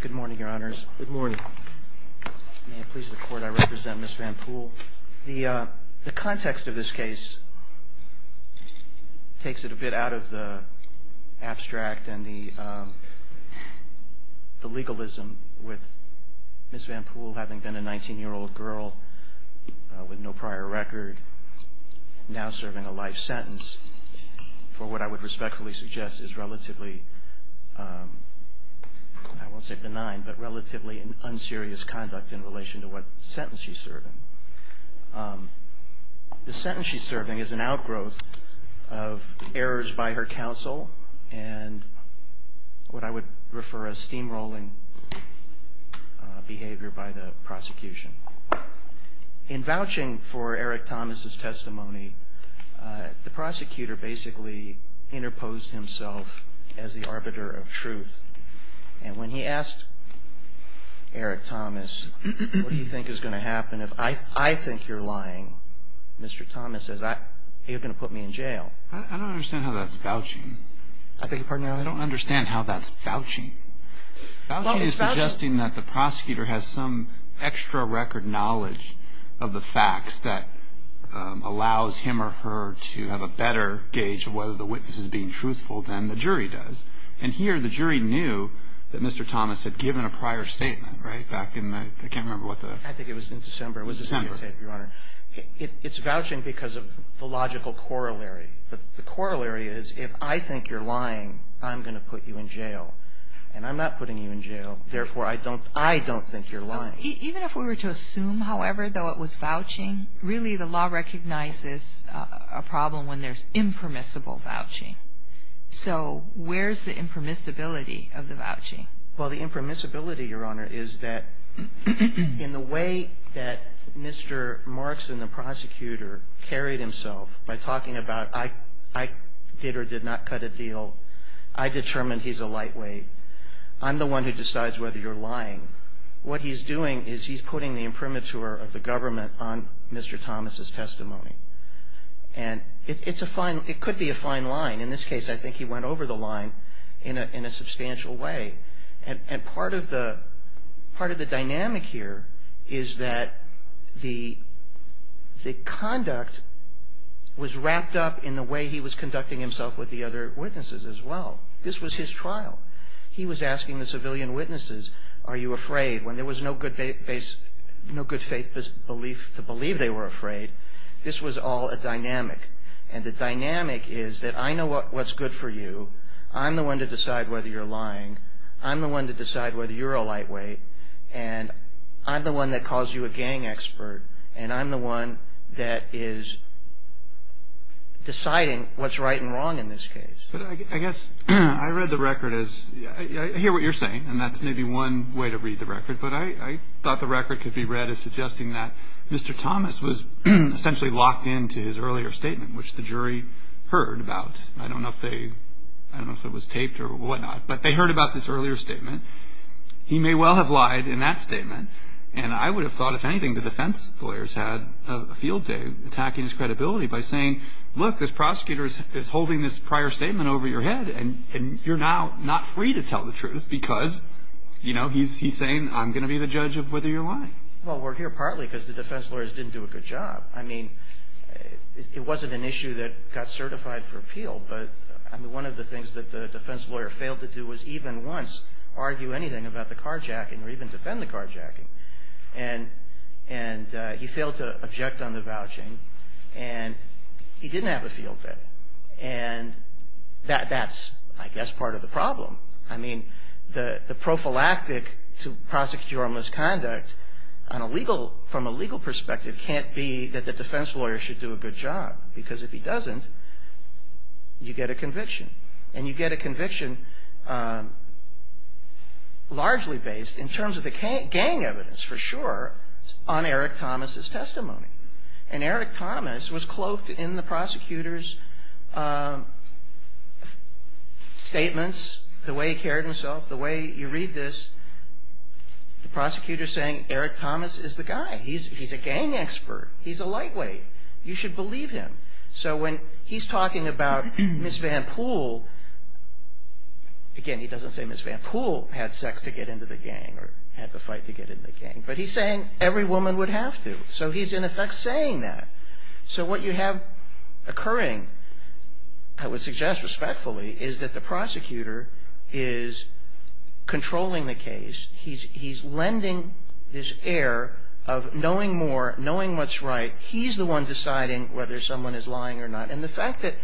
Good morning, Your Honors. May it please the Court, I represent Ms. Van Pool. The context of this case takes it a bit out of the abstract and the legalism with Ms. Van Pool having been a 19-year-old girl with no prior record, now serving a life sentence for what I would respectfully suggest is relatively, I won't say benign, but relatively unserious conduct in relation to what sentence she's serving. The sentence she's serving is an outgrowth of errors by her counsel and what I would refer as steamrolling behavior by the prosecution. In vouching for Eric Thomas' testimony, the prosecutor basically interposed himself as the arbiter of truth. And when he asked Eric Thomas, what do you think is going to happen if I think you're lying, Mr. Thomas says, are you going to put me in jail? I don't understand how that's vouching. I beg your pardon, Your Honor? I don't understand how that's vouching. Well, it's vouching. Vouching is suggesting that the prosecutor has some extra record knowledge of the facts that allows him or her to have a better gauge of whether the witness is being truthful than the jury does. And here the jury knew that Mr. Thomas had given a prior statement, right, back in the, I can't remember what the... I think it was in December. It was in December. It's vouching because of the logical corollary. The corollary is if I think you're lying, I'm going to put you in jail. And I'm not putting you in jail. Therefore, I don't think you're lying. Even if we were to assume, however, though it was vouching, really the law recognizes a problem when there's impermissible vouching. So where's the impermissibility of the vouching? Well, the impermissibility, Your Honor, is that in the way that Mr. Markson, the prosecutor, carried himself by talking about I did or did not cut a deal. I determined he's a lightweight. I'm the one who decides whether you're lying. What he's doing is he's putting the imprimatur of the government on Mr. Thomas's testimony. And it's a fine, it could be a fine line. In this case, I think he went over the line in a substantial way. And part of the dynamic here is that the conduct was wrapped up in the way he was conducting himself with the other witnesses as well. This was his trial. He was asking the civilian witnesses, are you afraid? When there was no good faith belief to believe they were afraid, this was all a dynamic. And the dynamic is that I know what's good for you. I'm the one to decide whether you're lying. I'm the one to decide whether you're a lightweight. And I'm the one that calls you a gang expert. And I'm the one that is deciding what's right and wrong in this case. I guess I read the record as, I hear what you're saying, and that's maybe one way to read the record. But I thought the record could be read as suggesting that Mr. Thomas was essentially locked into his earlier statement, which the jury heard about. I don't know if it was taped or whatnot. But they heard about this earlier statement. He may well have lied in that statement. And I would have thought, if anything, the defense lawyers had a field day attacking his credibility by saying, look, this prosecutor is holding this prior statement over your head, and you're now not free to tell the truth because, you know, he's saying I'm going to be the judge of whether you're lying. Well, we're here partly because the defense lawyers didn't do a good job. I mean, it wasn't an issue that got certified for appeal. But, I mean, one of the things that the defense lawyer failed to do was even once argue anything about the carjacking or even defend the carjacking. And he failed to object on the vouching. And he didn't have a field day. So, I mean, the prophylactic to prosecutorial misconduct on a legal, from a legal perspective can't be that the defense lawyer should do a good job. Because if he doesn't, you get a conviction. And you get a conviction largely based in terms of the gang evidence, for sure, on Eric Thomas's testimony. And Eric Thomas was cloaked in the prosecutor's statements, the way he carried himself, the way you read this, the prosecutor saying Eric Thomas is the guy. He's a gang expert. He's a lightweight. You should believe him. So, when he's talking about Ms. Van Poole, again, he doesn't say Ms. Van Poole had sex to get into the gang or had to fight to get into the gang. But he's saying every woman would have to. So he's, in effect, saying that. So what you have occurring, I would suggest respectfully, is that the prosecutor is controlling the case. He's lending this air of knowing more, knowing what's right. He's the one deciding whether someone is lying or not. And the fact that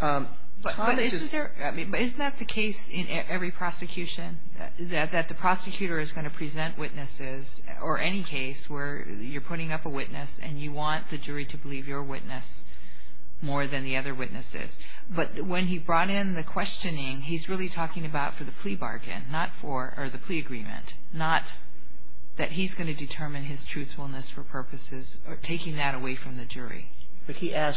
Thomas is --. Kagan. But isn't there, I mean, isn't that the case in every prosecution, that the prosecutor is going to present witnesses, or any case where you're putting up a witness and you want the jury to believe your witness more than the other witnesses. But when he brought in the questioning, he's really talking about for the plea bargain, not for the plea agreement, not that he's going to determine his truthfulness for purposes of taking that away from the jury. He doesn't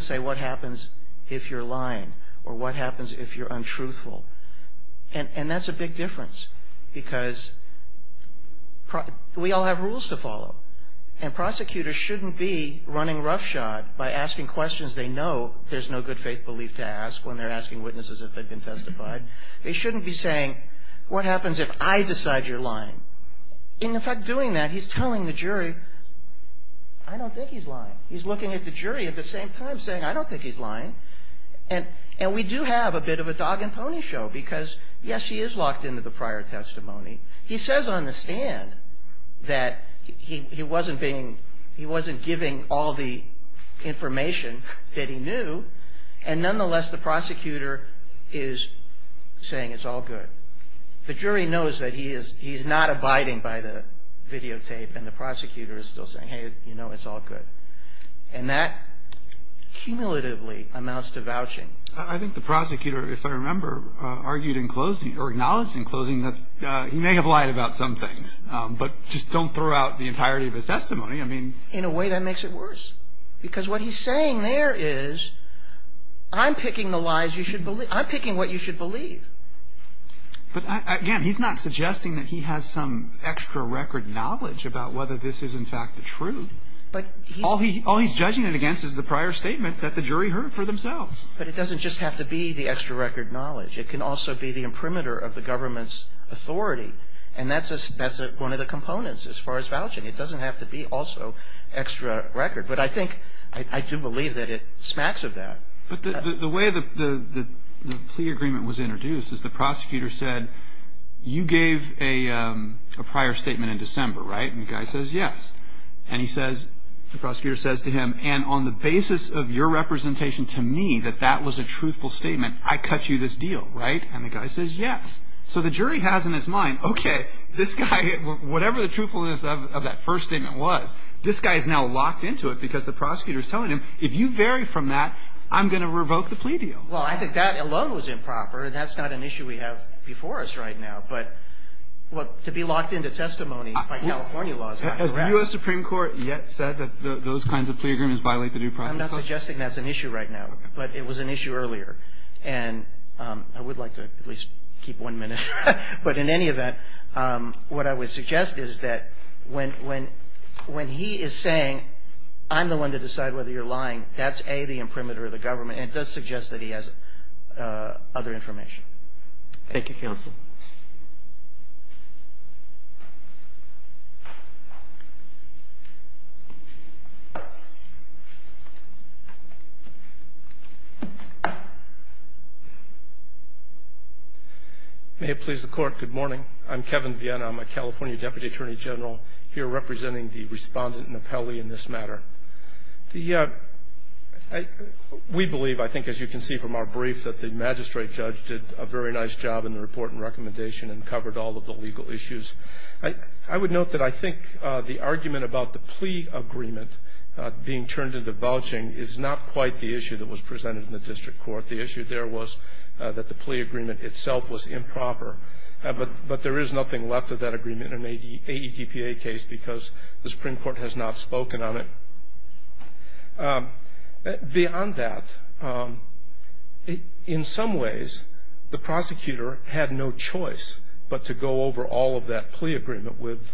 say what happens if you're lying or what happens if you're untruthful. And that's a big difference because we all have rules to follow. And prosecutors shouldn't be running roughshod by asking questions they know there's no good faith belief to ask when they're asking witnesses if they've been testified. They shouldn't be saying, what happens if I decide you're lying? In effect, doing that, he's telling the jury, I don't think he's lying. He's looking at the jury at the same time saying, I don't think he's lying. And we do have a bit of a dog and pony show because, yes, he is locked into the prior testimony. He says on the stand that he wasn't being, he wasn't giving all the information that he knew. And nonetheless, the prosecutor is saying it's all good. The jury knows that he's not abiding by the videotape and the prosecutor is still saying, hey, you know, it's all good. And that cumulatively amounts to vouching. I think the prosecutor, if I remember, argued in closing, or acknowledged in closing, that he may have lied about some things, but just don't throw out the entirety of his testimony. In a way, that makes it worse because what he's saying there is, I'm picking the lies you should believe, I'm picking what you should believe. But, again, he's not suggesting that he has some extra record knowledge about whether this is, in fact, the truth. All he's judging it against is the prior statement that the jury heard for themselves. But it doesn't just have to be the extra record knowledge. It can also be the imprimatur of the government's authority. And that's one of the components as far as vouching. It doesn't have to be also extra record. But I think, I do believe that it smacks of that. But the way the plea agreement was introduced is the prosecutor said, you gave a prior statement in December, right? And the guy says yes. And he says, the prosecutor says to him, and on the basis of your representation to me that that was a truthful statement, I cut you this deal, right? And the guy says yes. So the jury has in its mind, okay, this guy, whatever the truthfulness of that first statement was, this guy is now locked into it because the prosecutor is telling him, if you vary from that, I'm going to revoke the plea deal. Well, I think that alone was improper. And that's not an issue we have before us right now. But to be locked into testimony by California law is not correct. Has the U.S. Supreme Court yet said that those kinds of plea agreements violate the new process? I'm not suggesting that's an issue right now. But it was an issue earlier. And I would like to at least keep one minute. But in any event, what I would suggest is that when he is saying, I'm the one to decide whether you're lying, that's, A, the imprimatur of the government. And it does suggest that he has other information. Thank you, counsel. May it please the Court, good morning. I'm Kevin Vienna. I'm a California Deputy Attorney General here representing the respondent and appellee in this matter. We believe, I think as you can see from our brief, that the magistrate judge did a very nice job in the report and recommendation and covered all of the legal issues. I would note that I think the argument about the plea agreement being turned into vouching is not quite the issue that was presented in the district court. The issue there was that the plea agreement itself was improper. But there is nothing left of that agreement in an AEDPA case because the Supreme Court has not spoken on it. Beyond that, in some ways, the prosecutor had no choice but to go over all of that plea agreement with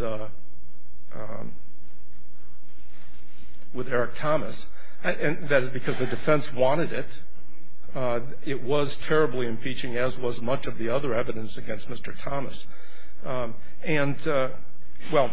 Eric Thomas. And that is because the defense wanted it. It was terribly impeaching, as was much of the other evidence against Mr. Thomas. And, well,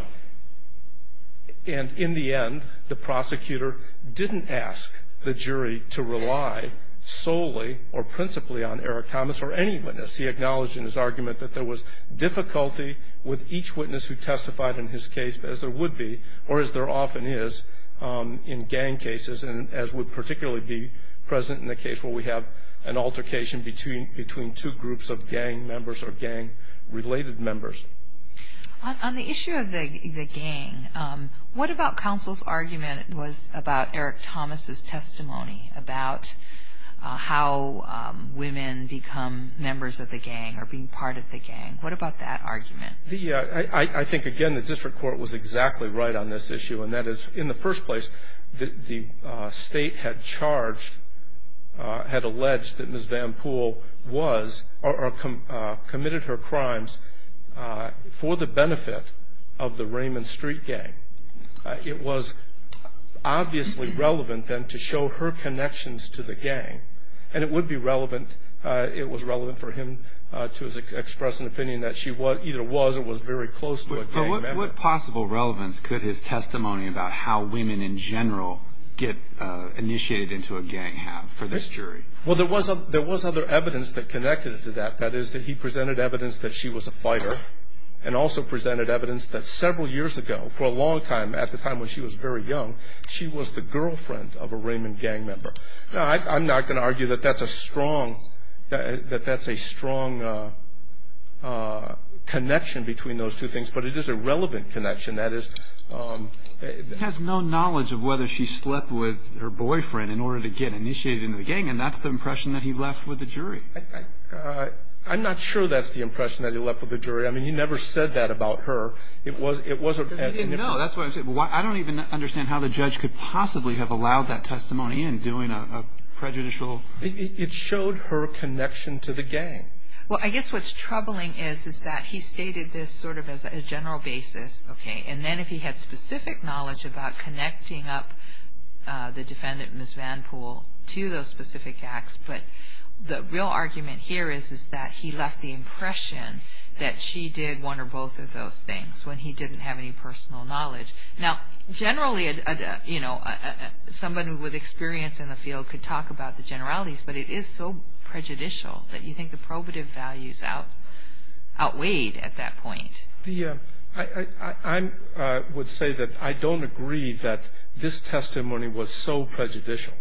and in the end, the prosecutor didn't ask the jury to rely solely or principally on Eric Thomas or any witness. He acknowledged in his argument that there was difficulty with each witness who testified in his case, as there would be or as there often is in gang cases, and as would particularly be present in the case where we have an altercation between two groups of gang members or gang-related members. On the issue of the gang, what about counsel's argument was about Eric Thomas's testimony about how women become members of the gang or being part of the gang? What about that argument? I think, again, the district court was exactly right on this issue, and that is in the first place the state had charged, had alleged that Ms. Van Poole was or committed her crimes for the benefit of the Raymond Street gang. It was obviously relevant then to show her connections to the gang, and it would be relevant, it was relevant for him to express an opinion that she either was or was very close to a gang member. But what possible relevance could his testimony about how women in general get initiated into a gang have for this jury? Well, there was other evidence that connected it to that. That is that he presented evidence that she was a fighter and also presented evidence that several years ago, for a long time, at the time when she was very young, she was the girlfriend of a Raymond gang member. Now, I'm not going to argue that that's a strong connection between those two things, but it is a relevant connection. He has no knowledge of whether she slept with her boyfriend in order to get initiated into the gang, and that's the impression that he left with the jury. I'm not sure that's the impression that he left with the jury. I mean, he never said that about her. He didn't know. That's what I'm saying. I don't even understand how the judge could possibly have allowed that testimony in, doing a prejudicial... It showed her connection to the gang. Well, I guess what's troubling is that he stated this sort of as a general basis, okay, and then if he had specific knowledge about connecting up the defendant, Ms. Van Poole, to those specific acts, but the real argument here is that he left the impression that she did one or both of those things when he didn't have any personal knowledge. Now, generally, you know, somebody with experience in the field could talk about the generalities, but it is so prejudicial that you think the probative values outweighed at that point. I would say that I don't agree that this testimony was so prejudicial.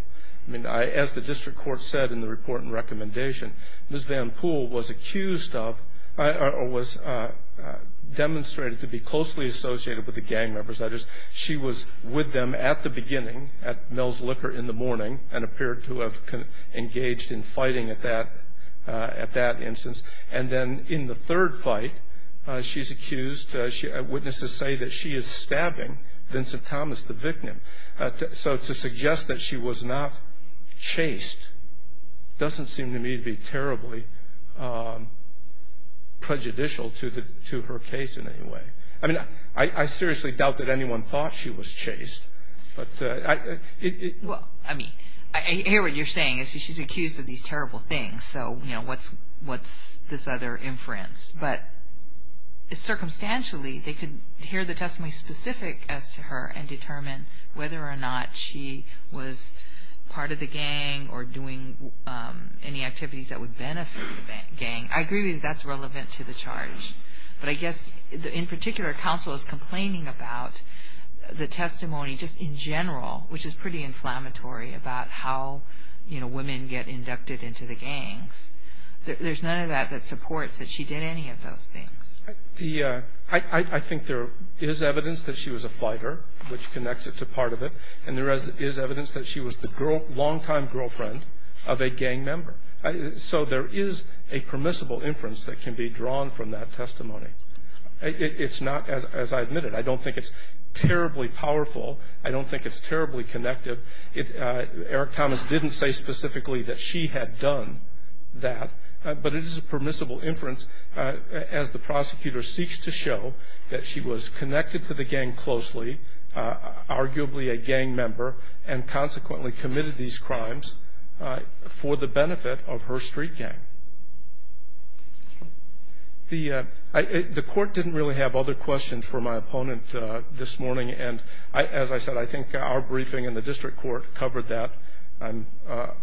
I mean, as the district court said in the report and recommendation, Ms. Van Poole was accused of or was demonstrated to be closely associated with the gang representatives. She was with them at the beginning at Mel's Liquor in the morning and appeared to have engaged in fighting at that instance. And then in the third fight, she's accused, witnesses say that she is stabbing Vincent Thomas, the victim. So to suggest that she was not chased doesn't seem to me to be terribly prejudicial to her case in any way. I mean, I seriously doubt that anyone thought she was chased. But I mean, I hear what you're saying. She's accused of these terrible things, so, you know, what's this other inference? But circumstantially, they could hear the testimony specific as to her and determine whether or not she was part of the gang or doing any activities that would benefit the gang. I agree that that's relevant to the charge. But I guess in particular, counsel is complaining about the testimony just in general, which is pretty inflammatory about how, you know, women get inducted into the gangs. There's none of that that supports that she did any of those things. I think there is evidence that she was a fighter, which connects it to part of it. And there is evidence that she was the long-time girlfriend of a gang member. So there is a permissible inference that can be drawn from that testimony. It's not, as I admitted, I don't think it's terribly powerful. I don't think it's terribly connective. Eric Thomas didn't say specifically that she had done that. But it is a permissible inference as the prosecutor seeks to show that she was connected to the gang closely, arguably a gang member, and consequently committed these crimes for the benefit of her street gang. The court didn't really have other questions for my opponent this morning. And as I said, I think our briefing in the district court covered that. I'm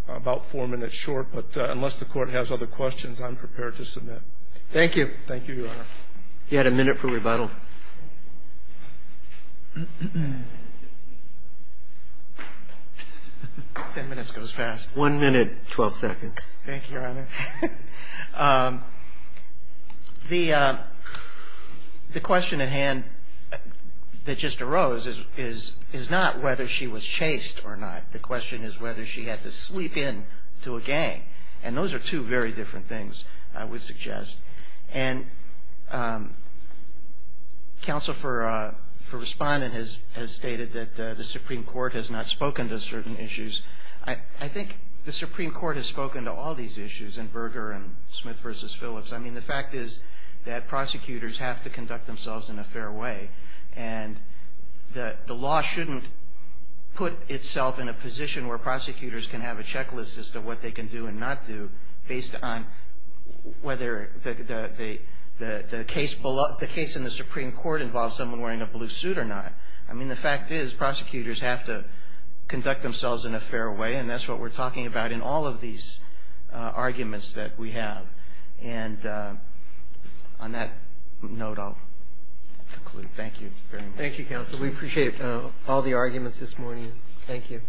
about four minutes short. But unless the court has other questions, I'm prepared to submit. Thank you. Thank you, Your Honor. You had a minute for rebuttal. Ten minutes goes fast. One minute, 12 seconds. Thank you, Your Honor. The question at hand that just arose is not whether she was chased or not. The question is whether she had to sleep in to a gang. And those are two very different things, I would suggest. And counsel for respondent has stated that the Supreme Court has not spoken to certain issues. I think the Supreme Court has spoken to all these issues in Berger and Smith v. Phillips. I mean, the fact is that prosecutors have to conduct themselves in a fair way. And the law shouldn't put itself in a position where prosecutors can have a checklist as to what they can do and not do based on whether the case in the Supreme Court involves someone wearing a blue suit or not. I mean, the fact is prosecutors have to conduct themselves in a fair way. And that's what we're talking about in all of these arguments that we have. And on that note, I'll conclude. Thank you very much. Thank you, counsel. We appreciate all the arguments this morning. Thank you.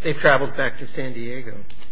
Safe travels back to San Diego.